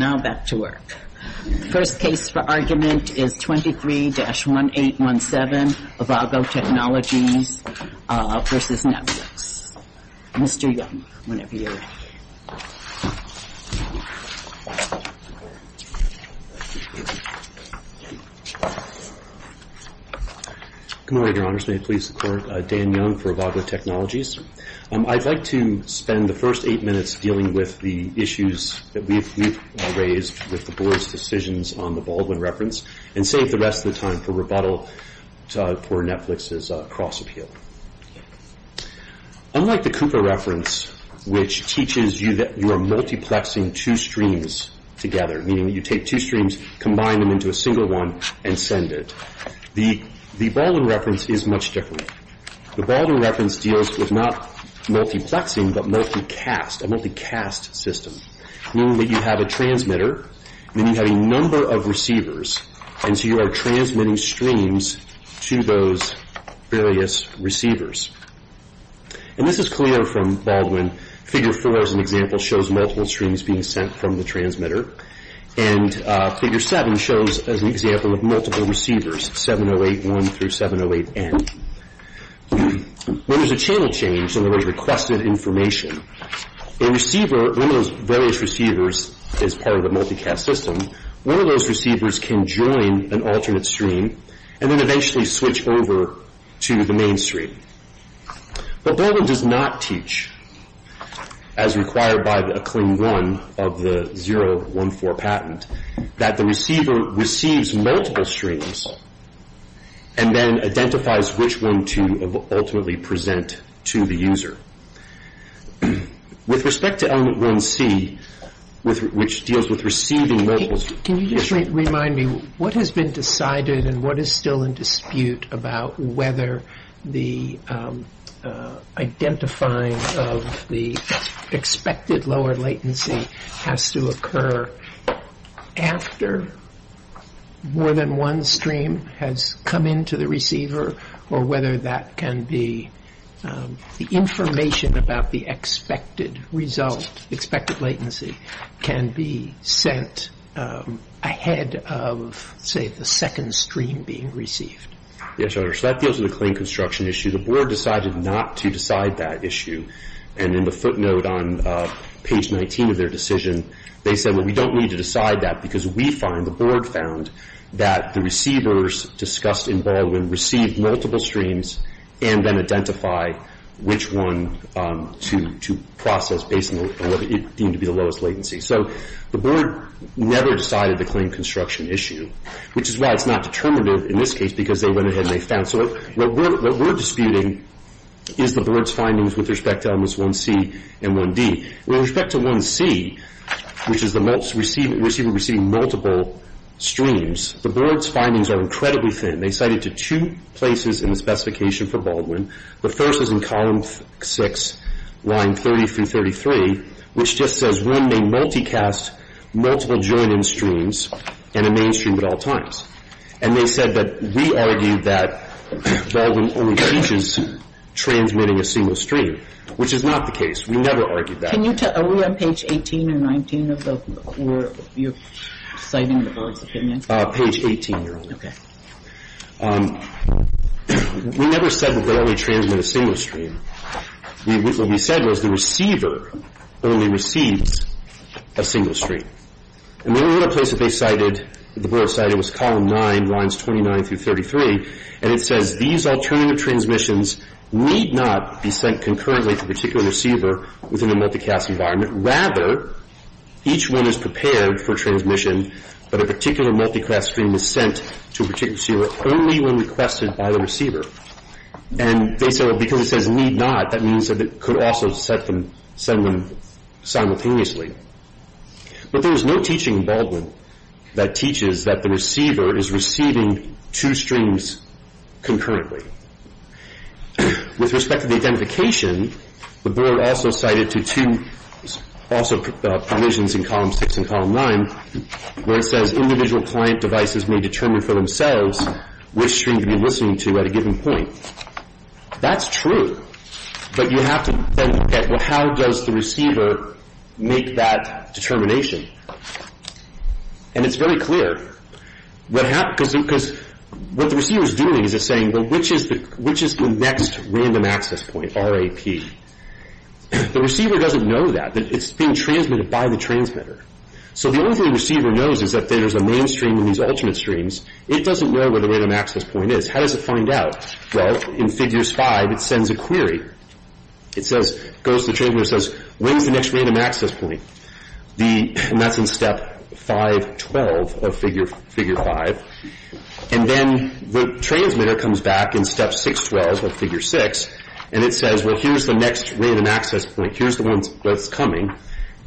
Now back to work. The first case for argument is 23-1817, Avago Technologies v. Netflix. Mr. Young, whenever you're ready. Good morning, Your Honors. May it please the Court? Dan Young for Avago Technologies. I'd like to spend the first eight minutes dealing with the issues that we've raised with the Board's decisions on the Baldwin Reference and save the rest of the time for rebuttal for Netflix's cross-appeal. Unlike the Cooper Reference, which teaches you that you are multiplexing two streams together, meaning that you take two streams, combine them into a single one, and send it, the Baldwin Reference is much different. The Baldwin Reference deals with not multiplexing, but multicast, a multicast system, meaning that you have a transmitter, and then you have a number of receivers, and so you are transmitting streams to those various receivers. And this is clear from Baldwin. Figure 4, as an example, shows multiple streams being sent from the transmitter. And Figure 7 shows, as an example, of multiple receivers, 708-1 through 708-N. When there's a channel change in the requested information, a receiver, one of those various receivers is part of a multicast system. One of those receivers can join an alternate stream and then eventually switch over to the mainstream. But Baldwin does not teach, as required by Acclaim 1 of the 014 patent, that the receiver receives multiple streams, and then identifies which one to ultimately present to the user. With respect to element 1C, which deals with receiving multiple streams... Can you just remind me, what has been decided and what is still in dispute about whether the identifying of the expected lower latency has to occur after more than one stream has come into the receiver, or whether that can be the information about the expected result, expected latency, can be sent ahead of, say, the second stream being received? Yes, Your Honor. So that deals with the claim construction issue. The Board decided not to decide that issue. And in the footnote on page 19 of their decision, they said, well, we don't need to decide that, because we find, the Board found, that the receivers discussed in Baldwin received multiple streams and then identify which one to process based on what it deemed to be the lowest latency. So the Board never decided the claim construction issue, which is why it's not determinative in this case, because they went ahead and they found... So what we're disputing is the Board's findings with respect to elements 1C and 1D. With respect to 1C, which is the receiver receiving multiple streams, the Board's findings are incredibly thin. They cite it to two places in the specification for Baldwin. The first is in column 6, line 30 through 33, which just says, when they multicast multiple join-in streams in a mainstream at all times. And they said that we argued that Baldwin only teaches transmitting a single stream, which is not the case. We never argued that. Can you tell, are we on page 18 and 19 of the, where you're citing the Board's opinions? Page 18, Your Honor. Okay. We never said that Baldwin transmits a single stream. What we said was the receiver only receives a single stream. And the only other place that they cited, the Board cited, was column 9, lines 29 through 33, and it says these alternative transmissions need not be sent concurrently to a particular receiver within the multicast environment. Rather, each one is prepared for transmission, but a particular multicast stream is sent to a particular receiver only when requested by the receiver. And they said, well, because it says need not, that means that it could also send them simultaneously. But there is no teaching in Baldwin that teaches that the receiver is receiving two streams concurrently. With respect to the identification, the Board also cited to two, also provisions in column 6 and column 9, where it says individual client devices may determine for themselves which stream to be listening to at a given point. That's true, but you have to then look at how does the receiver make that determination. And it's very clear, because what the receiver is doing is it's saying, well, which is the next random access point, RAP? The receiver doesn't know that. It's being transmitted by the transmitter. So the only thing the receiver knows is that there's a main stream and these alternate streams. It doesn't know where the random access point is. How does it find out? Well, in figures 5, it sends a query. It says, goes to the transmitter and says, where's the next random access point? And that's in step 512 of figure 5. And then the transmitter comes back in step 612 of figure 6, and it says, well, here's the next random access point. Here's the one that's coming.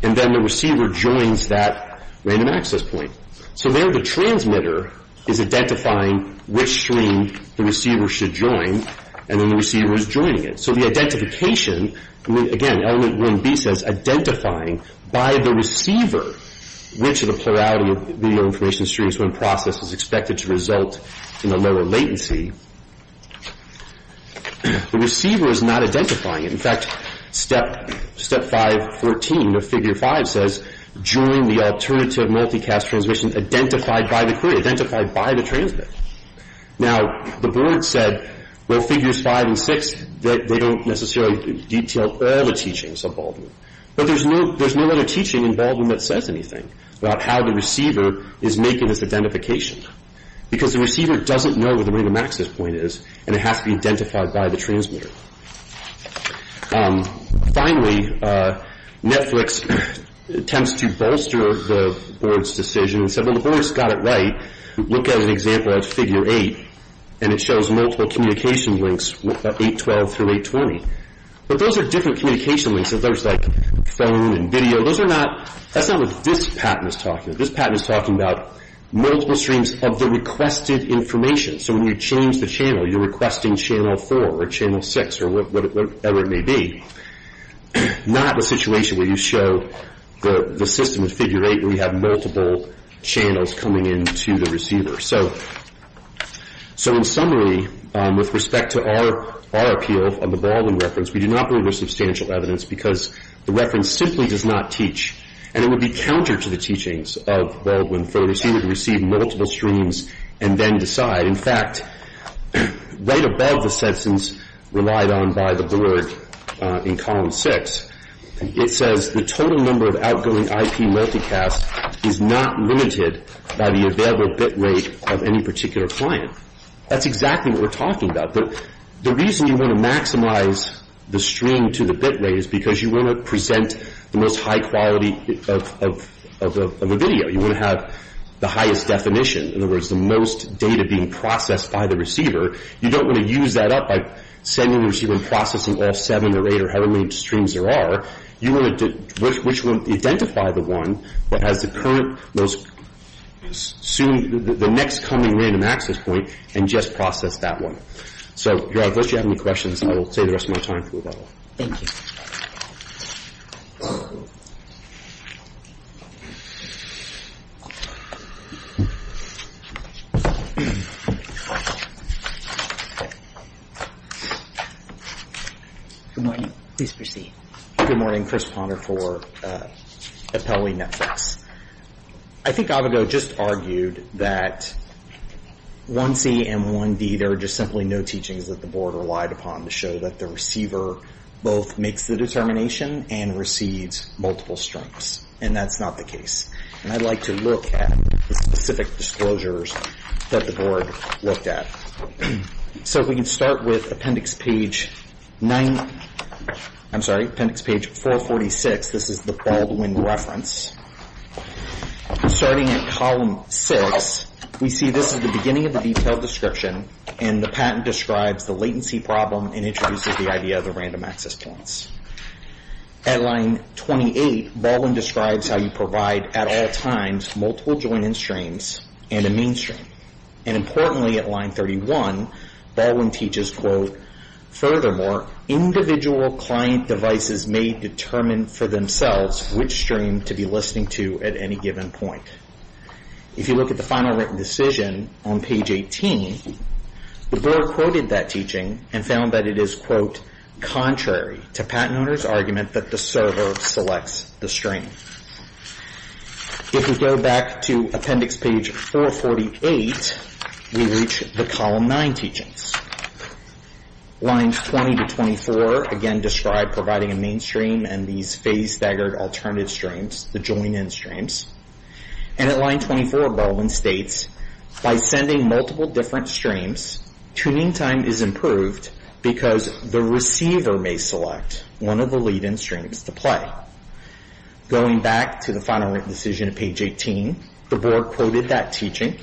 And then the receiver joins that random access point. So there the transmitter is identifying which stream the receiver should join, and then the receiver is joining it. So the identification, again, element 1B says identifying by the receiver which of the plurality of video information streams when processed is expected to result in a lower latency. The receiver is not identifying it. In fact, step 514 of figure 5 says, join the alternative multicast transmission identified by the query, identified by the transmitter. Now, the board said, well, figures 5 and 6, they don't necessarily detail all the teachings of Baldwin. But there's no other teaching in Baldwin that says anything about how the receiver is making this identification because the receiver doesn't know where the random access point is, and it has to be identified by the transmitter. Finally, Netflix attempts to bolster the board's decision and said, well, the board's got it right. Look at an example of figure 8, and it shows multiple communication links, 812 through 820. But those are different communication links. So there's like phone and video. Those are not, that's not what this patent is talking about. This patent is talking about multiple streams of the requested information. So when you change the channel, you're requesting channel 4 or channel 6 or whatever it may be, not a situation where you show the system of figure 8 where you have multiple channels coming into the receiver. So in summary, with respect to our appeal on the Baldwin reference, we do not believe there's substantial evidence because the reference simply does not teach, and it would be counter to the teachings of Baldwin. For the receiver to receive multiple streams and then decide. In fact, right above the sentence relied on by the board in column 6, it says the total number of outgoing IP multicast is not limited by the available bit rate of any particular client. That's exactly what we're talking about. But the reason you want to maximize the stream to the bit rate is because you want to present the most high quality of the video. You want to have the highest definition. In other words, the most data being processed by the receiver. You don't want to use that up by sending the receiver and processing all seven or eight or however many streams there are. You want to identify the one that has the current most soon the next coming random access point and just process that one. So you have any questions, I will take the rest of my time. Thank you. Good morning. Please proceed. Good morning. Chris Ponder for Appellee Netflix. I think I would go just argued that one C and one D there are just simply no teachings that the board relied upon to show that the receiver both makes the determination and receives multiple streams. And that's not the case. And I'd like to look at the specific disclosures that the board looked at. So if we can start with appendix page 9, I'm sorry, appendix page 446. This is the Baldwin reference. Starting at column 6, we see this is the beginning of the detailed description, and the patent describes the latency problem and introduces the idea of the random access points. At line 28, Baldwin describes how you provide at all times multiple join-in streams and a mean stream. And importantly, at line 31, Baldwin teaches, quote, Furthermore, individual client devices may determine for themselves which stream to be listening to at any given point. If you look at the final written decision on page 18, the board quoted that teaching and found that it is, quote, contrary to patent owner's argument that the server selects the stream. If we go back to appendix page 448, we reach the column 9 teachings. Lines 20 to 24, again, describe providing a mean stream and these phase staggered alternative streams, the join-in streams. And at line 24, Baldwin states, By sending multiple different streams, tuning time is improved because the receiver may select one of the lead-in streams to play. Going back to the final written decision at page 18, the board quoted that teaching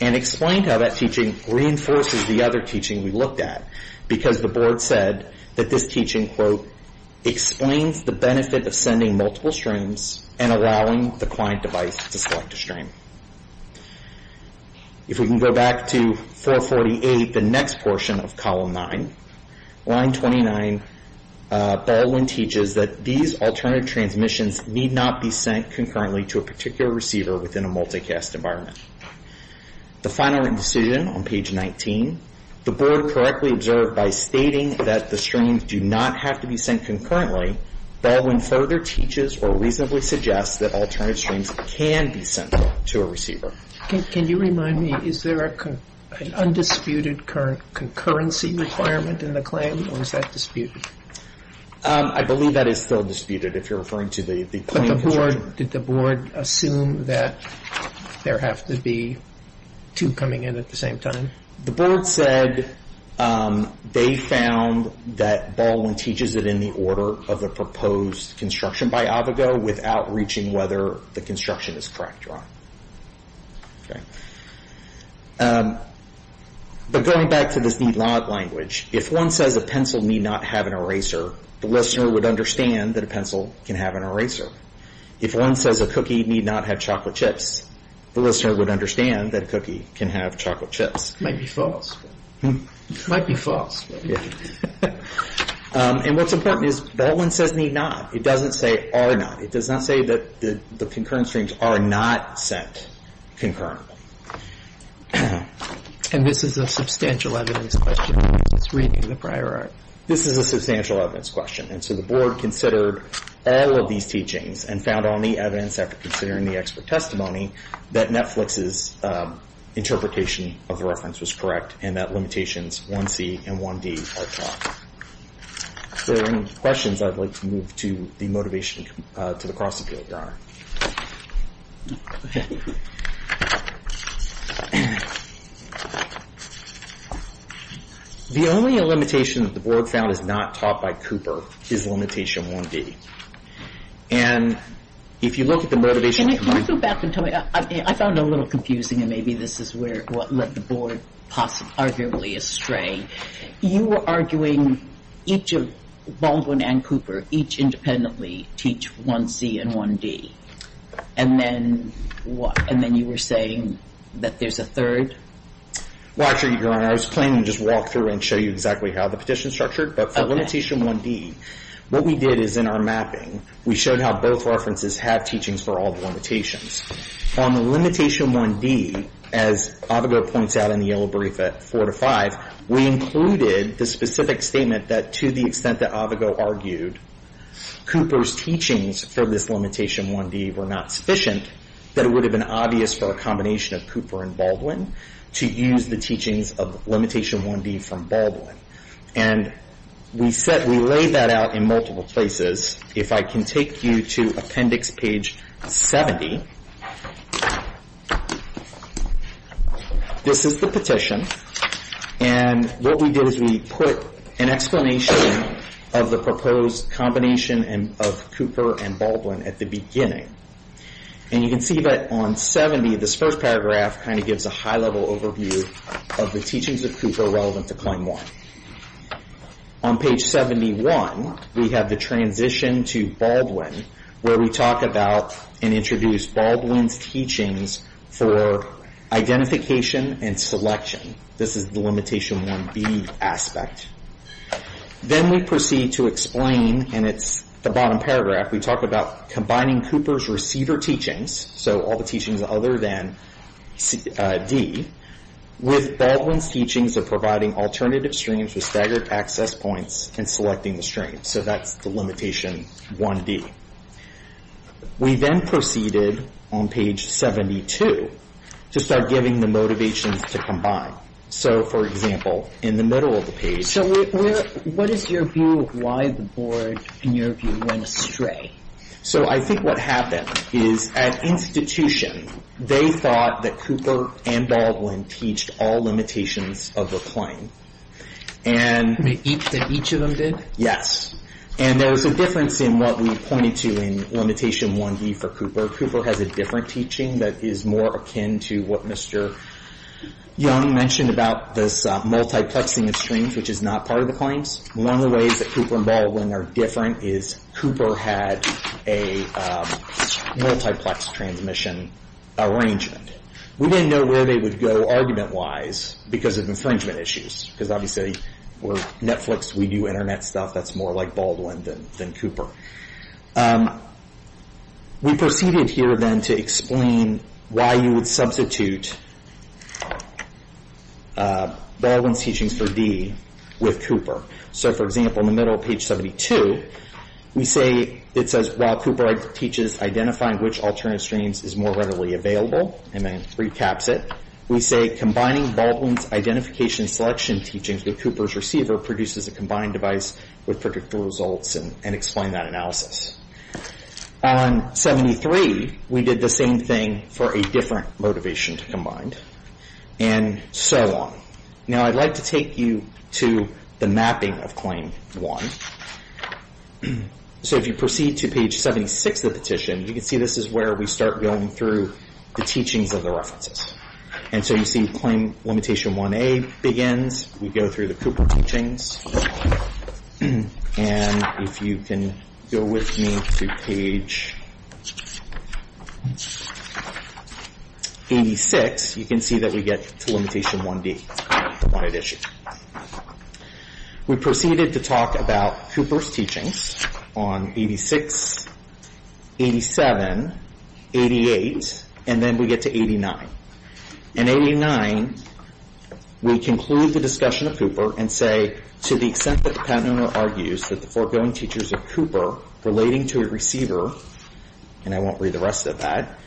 and explained how that teaching reinforces the other teaching we looked at because the board said that this teaching, quote, explains the benefit of sending multiple streams and allowing the client device to select a stream. If we can go back to 448, the next portion of column 9, line 29, Baldwin teaches that these alternative transmissions need not be sent concurrently to a particular receiver within a multicast environment. The final written decision on page 19, the board correctly observed by stating that the streams do not have to be sent concurrently, Baldwin further teaches or reasonably suggests that alternative streams can be sent to a receiver. Can you remind me, is there an undisputed current concurrency requirement in the claim, or is that disputed? I believe that is still disputed if you're referring to the claim. But the board, did the board assume that there have to be two coming in at the same time? The board said they found that Baldwin teaches it in the order of the proposed construction by Avogadro without reaching whether the construction is correct or not. But going back to this need not language, if one says a pencil need not have an eraser, the listener would understand that a pencil can have an eraser. If one says a cookie need not have chocolate chips, the listener would understand that a cookie can have chocolate chips. Might be false. Might be false. And what's important is Baldwin says need not. It doesn't say are not. It does not say that the concurrent streams are not sent concurrently. And this is a substantial evidence question. It's reading the prior art. This is a substantial evidence question, and so the board considered all of these teachings and found all need evidence after considering the expert testimony that Netflix's interpretation of the reference was correct and that limitations 1C and 1D are taught. If there are any questions, I'd like to move to the motivation to the cross-appeal. The only limitation that the board found is not taught by Cooper is limitation 1D. And if you look at the motivation. Can you go back and tell me? I found it a little confusing, and maybe this is what led the board arguably astray. You were arguing each of Baldwin and Cooper each independently teach 1C and 1D. And then you were saying that there's a third? Well, actually, Your Honor, I was planning to just walk through and show you exactly how the petition is structured. But for limitation 1D, what we did is in our mapping, we showed how both references have teachings for all the limitations. On the limitation 1D, as Avogadro points out in the yellow brief at 4 to 5, we included the specific statement that to the extent that Avogadro argued Cooper's teachings for this limitation 1D were not sufficient, that it would have been obvious for a combination of Cooper and Baldwin to use the teachings of limitation 1D from Baldwin. And we laid that out in multiple places. If I can take you to appendix page 70, this is the petition. And what we did is we put an explanation of the proposed combination of Cooper and Baldwin at the beginning. And you can see that on 70, this first paragraph kind of gives a high-level overview of the teachings of Cooper relevant to claim 1. On page 71, we have the transition to Baldwin, where we talk about and introduce Baldwin's teachings for identification and selection. This is the limitation 1B aspect. Then we proceed to explain, and it's the bottom paragraph, we talk about combining Cooper's receiver teachings, so all the teachings other than D, with Baldwin's teachings of providing alternative streams with staggered access points and selecting the streams. So that's the limitation 1D. We then proceeded on page 72 to start giving the motivations to combine. So, for example, in the middle of the page. So what is your view of why the board, in your view, went astray? So I think what happened is at institution, they thought that Cooper and Baldwin teach all limitations of the claim. And each of them did? And there was a difference in what we pointed to in limitation 1D for Cooper. Cooper has a different teaching that is more akin to what Mr. Young mentioned about this multiplexing of streams, which is not part of the claims. One of the ways that Cooper and Baldwin are different is Cooper had a multiplex transmission arrangement. We didn't know where they would go argument-wise because of infringement issues. Because obviously, we're Netflix, we do internet stuff, that's more like Baldwin than Cooper. We proceeded here then to explain why you would substitute Baldwin's teachings for D with Cooper. So, for example, in the middle of page 72, it says, while Cooper teaches identifying which alternative streams is more readily available, and then recaps it, we say combining Baldwin's identification selection teachings with Cooper's receiver produces a combined device with predictable results, and explain that analysis. On 73, we did the same thing for a different motivation to combine. And so on. Now, I'd like to take you to the mapping of claim 1. So, if you proceed to page 76 of the petition, you can see this is where we start going through the teachings of the references. And so you see claim limitation 1A begins. We go through the Cooper teachings. And if you can go with me to page 86, you can see that we get to limitation 1D. We proceeded to talk about Cooper's teachings on 86, 87, 88, and then we get to 89. In 89, we conclude the discussion of Cooper and say, to the extent that the patent owner argues that the foregoing teachers of Cooper relating to a receiver, and I won't read the rest of that,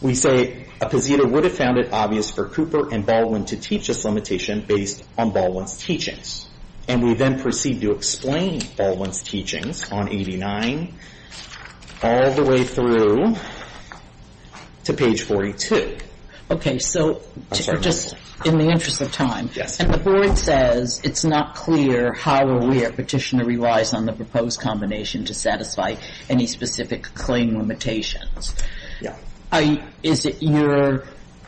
we say a position would have found it obvious for Cooper and Baldwin to teach this limitation based on Baldwin's teachings. And we then proceed to explain Baldwin's teachings on 89, all the way through to page 42. Okay, so just in the interest of time. Yes. And the board says it's not clear how or where petitioner relies on the proposed combination to satisfy any specific claim limitations. Yeah.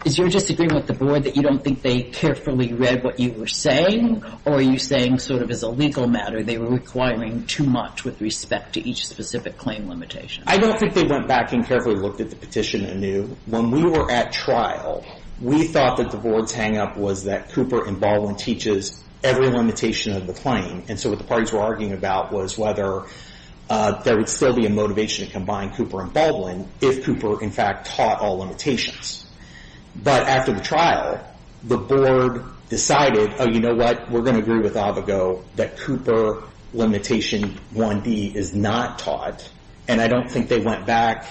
Is your disagreement with the board that you don't think they carefully read what you were saying? Or are you saying, sort of as a legal matter, they were requiring too much with respect to each specific claim limitation? I don't think they went back and carefully looked at the petition anew. When we were at trial, we thought that the board's hangup was that Cooper and Baldwin teaches every limitation of the claim. And so what the parties were arguing about was whether there would still be a motivation to combine Cooper and Baldwin if Cooper, in fact, taught all limitations. But after the trial, the board decided, oh, you know what, we're going to agree with Avogadro that Cooper limitation 1B is not taught. And I don't think they went back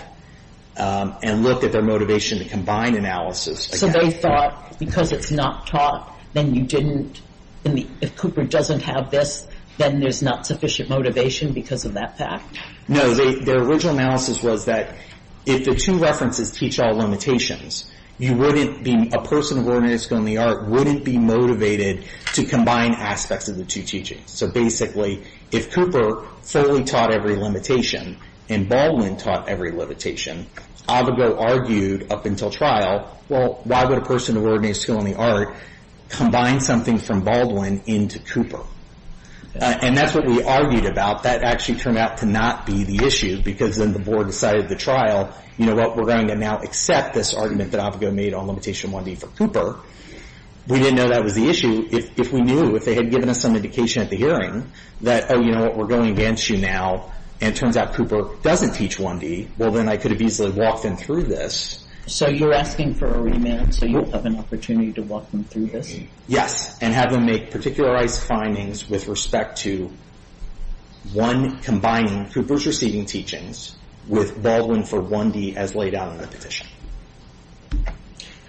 and looked at their motivation to combine analysis. So they thought because it's not taught, then you didn't. If Cooper doesn't have this, then there's not sufficient motivation because of that fact? No. Their original analysis was that if the two references teach all limitations, you wouldn't be a person of ordinary skill in the art wouldn't be motivated to combine aspects of the two teachings. So basically, if Cooper fully taught every limitation and Baldwin taught every limitation, Avogadro argued up until trial, well, why would a person of ordinary skill in the art combine something from Baldwin into Cooper? And that's what we argued about. That actually turned out to not be the issue because then the board decided at the trial, you know what, we're going to now accept this argument that Avogadro made on limitation 1B for Cooper. We didn't know that was the issue. If we knew, if they had given us some indication at the hearing that, oh, you know what, we're going against you now, and it turns out Cooper doesn't teach 1B, well, then I could have easily walked them through this. So you're asking for a remand so you have an opportunity to walk them through this? Yes, and have them make particularized findings with respect to one combining Cooper's receiving teachings with Baldwin for 1D as laid out in the petition.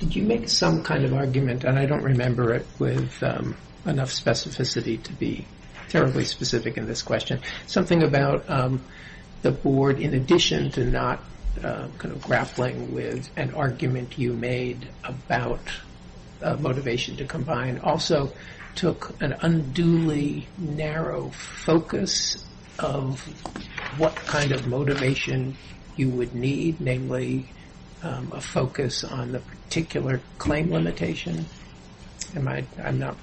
Did you make some kind of argument, and I don't remember it with enough specificity to be terribly specific in this question, something about the board in addition to not grappling with an argument you made about motivation to combine, also took an unduly narrow focus of what kind of motivation you would need, namely a focus on the particular claim limitation? Am I, I'm not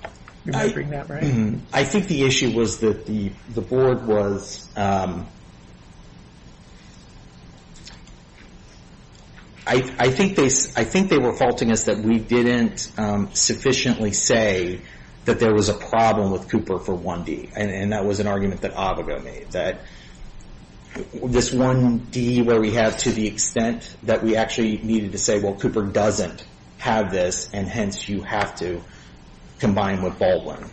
remembering that right? I think the issue was that the board was, I think they were faulting us that we didn't sufficiently say that there was a problem with Cooper for 1D, and that was an argument that Avogadro made, that this 1D where we have to the extent that we actually needed to say, well, Cooper doesn't have this, and hence you have to combine with Baldwin.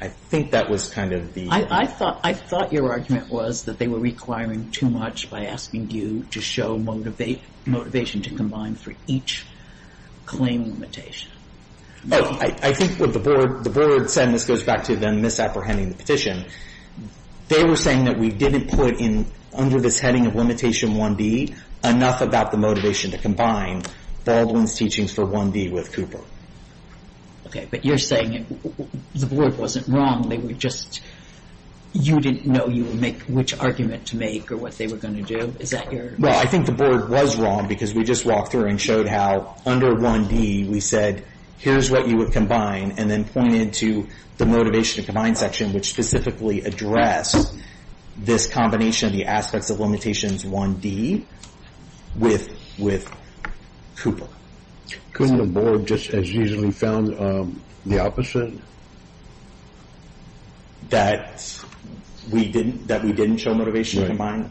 I think that was kind of the... I thought your argument was that they were requiring too much by asking you to show motivation to combine for each claim limitation. I think what the board said, and this goes back to them misapprehending the petition, they were saying that we didn't put in under this heading of limitation 1D enough about the motivation to combine Baldwin's teachings for 1D with Cooper. Okay, but you're saying the board wasn't wrong, they were just, you didn't know you would make which argument to make or what they were going to do? Is that your... Well, I think the board was wrong because we just walked through and showed how under 1D we said, here's what you would combine, and then pointed to the motivation to combine section which specifically addressed this combination of the aspects of limitations 1D with Cooper. Couldn't the board just as easily found the opposite? That we didn't show motivation to combine?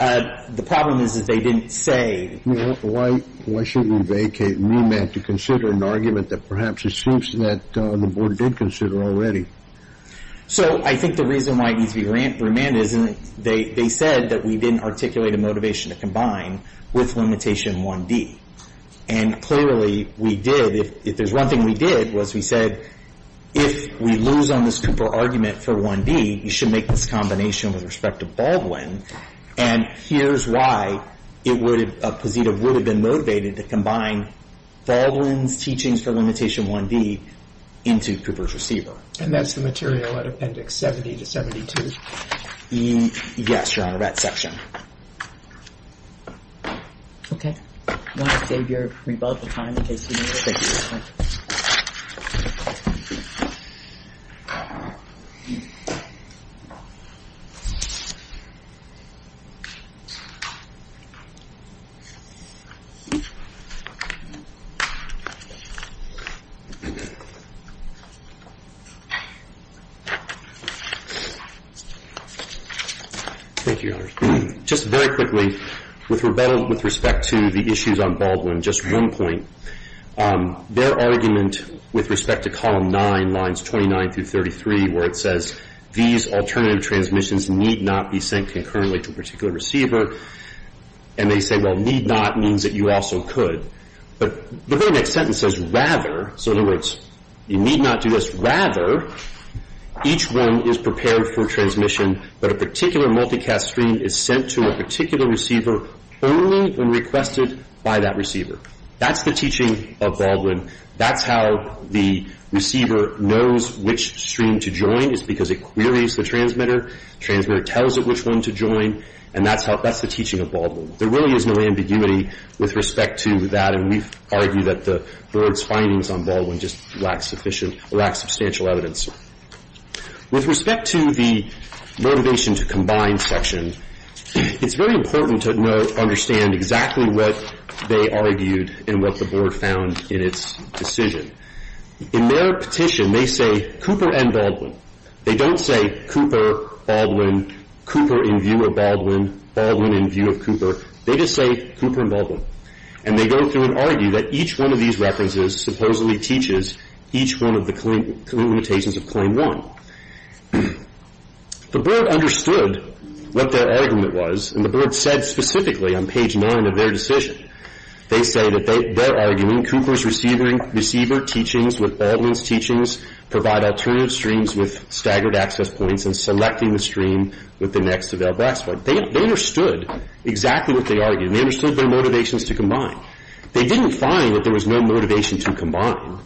Right. The problem is that they didn't say... Why shouldn't we vacate and remand to consider an argument that perhaps assumes that the board did consider already? So I think the reason why it needs to be remanded is they said that we didn't articulate a motivation to combine with limitation 1D, and clearly we did. If there's one thing we did was we said, if we lose on this Cooper argument for 1D, you should make this combination with respect to Baldwin, and here's why a positive would have been motivated to combine Baldwin's teachings for limitation 1D into Cooper's receiver. And that's the material at Appendix 70 to 72? Yes, Your Honor, that section. Okay. I want to save your rebuttal time in case you need it. Thank you, Your Honor. Thank you, Your Honor. Just very quickly, with rebuttal with respect to the issues on Baldwin, just one point. Their argument with respect to Column 9, Lines 29 through 33, where it says, these alternative transmissions need not be sent concurrently to a particular receiver, and they say, well, need not means that you also could. But the very next sentence says, rather, so in other words, you need not do this. Rather, each one is prepared for transmission, but a particular multicast stream is sent to a particular receiver only when requested by that receiver. That's the teaching of Baldwin. That's how the receiver knows which stream to join is because it queries the transmitter, transmitter tells it which one to join, and that's the teaching of Baldwin. There really is no ambiguity with respect to that, and we argue that the board's findings on Baldwin just lack sufficient or lack substantial evidence. With respect to the motivation to combine section, it's very important to understand exactly what they argued and what the board found in its decision. In their petition, they say Cooper and Baldwin. They don't say Cooper, Baldwin, Cooper in view of Baldwin, Baldwin in view of Cooper. They just say Cooper and Baldwin, and they go through and argue that each one of these references supposedly teaches each one of the limitations of Claim 1. The board understood what their argument was, and the board said specifically on page 9 of their decision. They say that they're arguing Cooper's receiver teachings with Baldwin's teachings provide alternative streams with staggered access points and selecting the stream with the next developed access point. They understood exactly what they argued, and they understood their motivations to combine. They didn't find that there was no motivation to combine.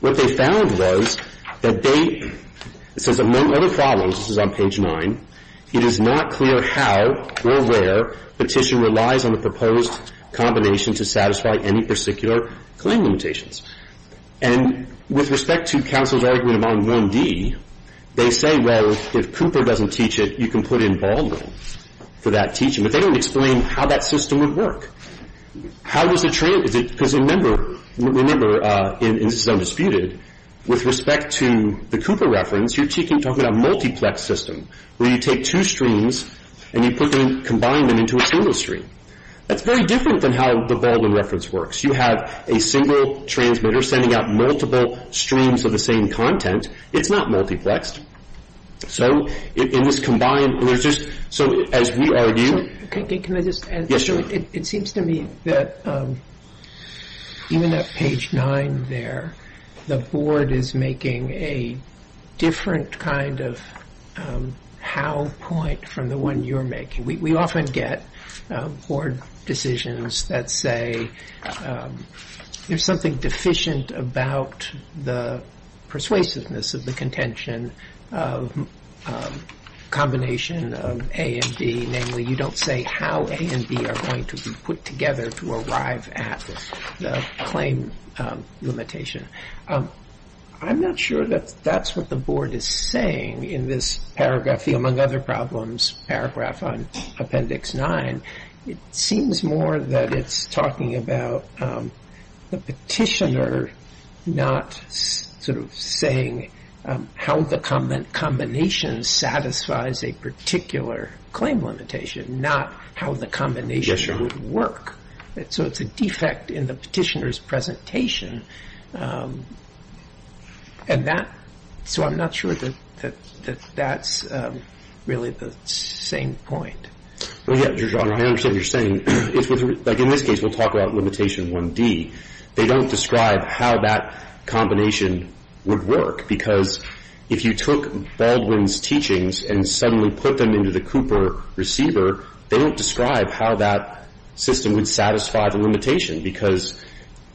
What they found was that they, it says, among other problems, this is on page 9, it is not clear how or where petition relies on the proposed combination to satisfy any particular claim limitations. And with respect to counsel's argument about 1D, they say, well, if Cooper doesn't teach it, you can put in Baldwin for that teaching. But they don't explain how that system would work. Because remember, and this is undisputed, with respect to the Cooper reference, you're talking about a multiplex system where you take two streams and you combine them into a single stream. That's very different than how the Baldwin reference works. You have a single transmitter sending out multiple streams of the same content. It's not multiplexed. So in this combined, there's just, so as we argue. Can I just add? Yes, sir. It seems to me that even at page 9 there, the board is making a different kind of how point from the one you're making. We often get board decisions that say there's something deficient about the persuasiveness of the contention of a combination of A and B. Namely, you don't say how A and B are going to be put together to arrive at the claim limitation. I'm not sure that that's what the board is saying in this paragraph, the Among Other Problems paragraph on Appendix 9. It seems more that it's talking about the petitioner not sort of saying how the combination satisfies a particular claim limitation, not how the combination would work. So it's a defect in the petitioner's presentation. So I'm not sure that that's really the same point. I understand what you're saying. In this case, we'll talk about limitation 1D. They don't describe how that combination would work because if you took Baldwin's teachings and suddenly put them into the Cooper receiver, they don't describe how that system would satisfy the limitation because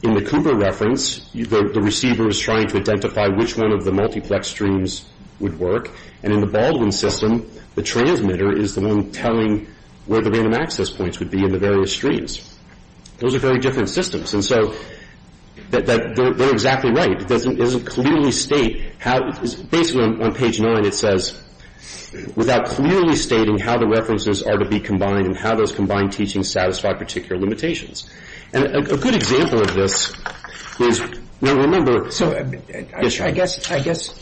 in the Cooper reference, the receiver is trying to identify which one of the multiplex streams would work, and in the Baldwin system, the transmitter is the one telling where the random access points would be in the various streams. Those are very different systems. And so they're exactly right. It doesn't clearly state how – basically on page 9, it says, without clearly stating how the references are to be combined and how those combined teachings satisfy particular limitations. And a good example of this is, remember – So I guess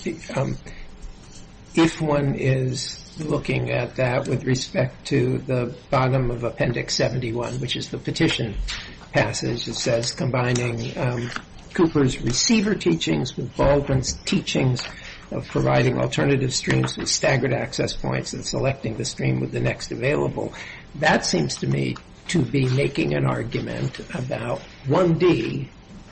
if one is looking at that with respect to the bottom of Appendix 71, which is the petition passage, it says combining Cooper's receiver teachings with Baldwin's teachings of providing alternative streams with staggered access points and selecting the stream with the next available. That seems to me to be making an argument about 1D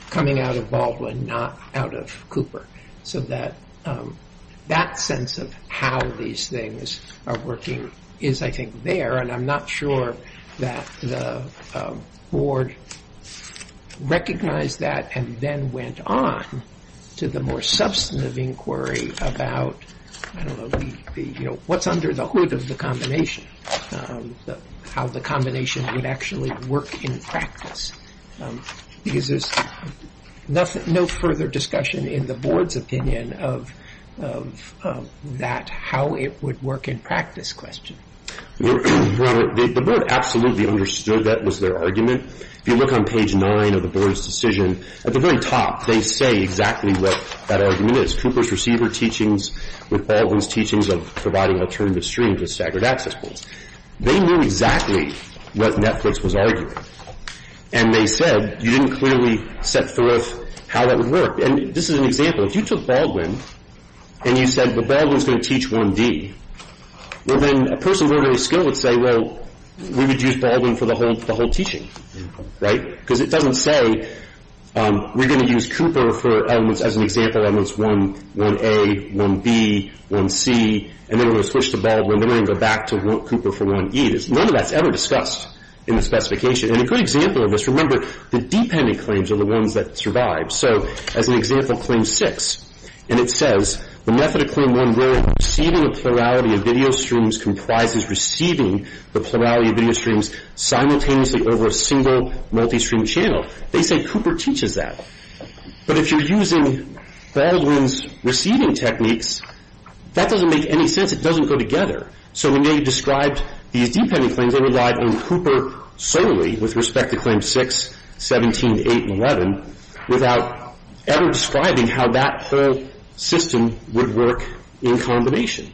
coming out of Baldwin, not out of Cooper. So that sense of how these things are working is, I think, there. And I'm not sure that the Board recognized that and then went on to the more substantive inquiry about, I don't know, what's under the hood of the combination, how the combination would actually work in practice. Because there's no further discussion in the Board's opinion of that, how it would work in practice question. Well, the Board absolutely understood that was their argument. If you look on page 9 of the Board's decision, at the very top they say exactly what that argument is. Cooper's receiver teachings with Baldwin's teachings of providing alternative streams with staggered access points. They knew exactly what Netflix was arguing. And they said, you didn't clearly set forth how that would work. And this is an example. If you took Baldwin and you said, well, Baldwin's going to teach 1D, well, then a person of ordinary skill would say, well, we would use Baldwin for the whole teaching, right? Because it doesn't say we're going to use Cooper for elements as an example, elements 1A, 1B, 1C, and then we're going to switch to Baldwin, then we're going to go back to Cooper for 1E. None of that's ever discussed in the specification. And a good example of this, remember, the dependent claims are the ones that survive. So as an example, claim 6, and it says, the method of claim 1B, receiving the plurality of video streams, comprises receiving the plurality of video streams simultaneously over a single multistream channel. They say Cooper teaches that. But if you're using Baldwin's receiving techniques, that doesn't make any sense. It doesn't go together. So when they described these dependent claims, they relied on Cooper solely with respect to claims 6, 17, 8, and 11, without ever describing how that whole system would work in combination.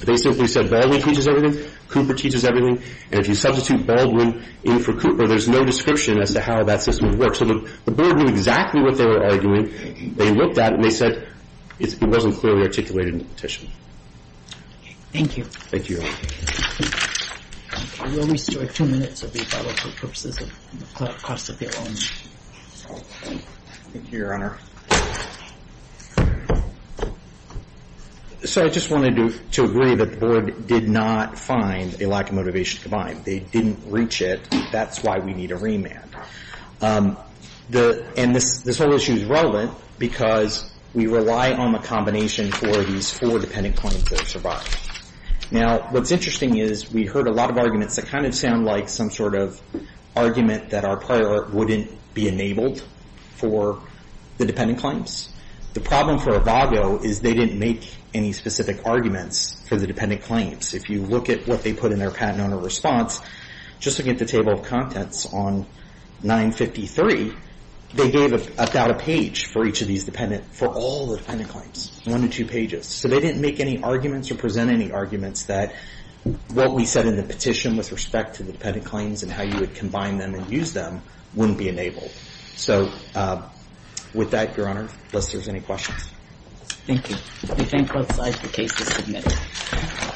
They simply said Baldwin teaches everything, Cooper teaches everything, and if you substitute Baldwin in for Cooper, there's no description as to how that system would work. So the board knew exactly what they were arguing. They looked at it, and they said it wasn't clearly articulated in the petition. Thank you. Thank you, Your Honor. Will we still have two minutes? Thank you, Your Honor. So I just wanted to agree that the board did not find a lack of motivation to combine. They didn't reach it. That's why we need a remand. And this whole issue is relevant because we rely on the combination for these four dependent claims that survive. Now, what's interesting is we heard a lot of arguments that kind of sound like some sort of argument that our prior wouldn't be enabled for the dependent claims. The problem for Avago is they didn't make any specific arguments for the dependent claims. If you look at what they put in their patent owner response, just look at the table of contents on 953, they gave about a page for each of these dependent, for all the dependent claims, one or two pages. So they didn't make any arguments or present any arguments that what we said in the petition with respect to the dependent claims and how you would combine them and use them wouldn't be enabled. So with that, Your Honor, unless there's any questions. Thank you. We thank both sides. The case is submitted.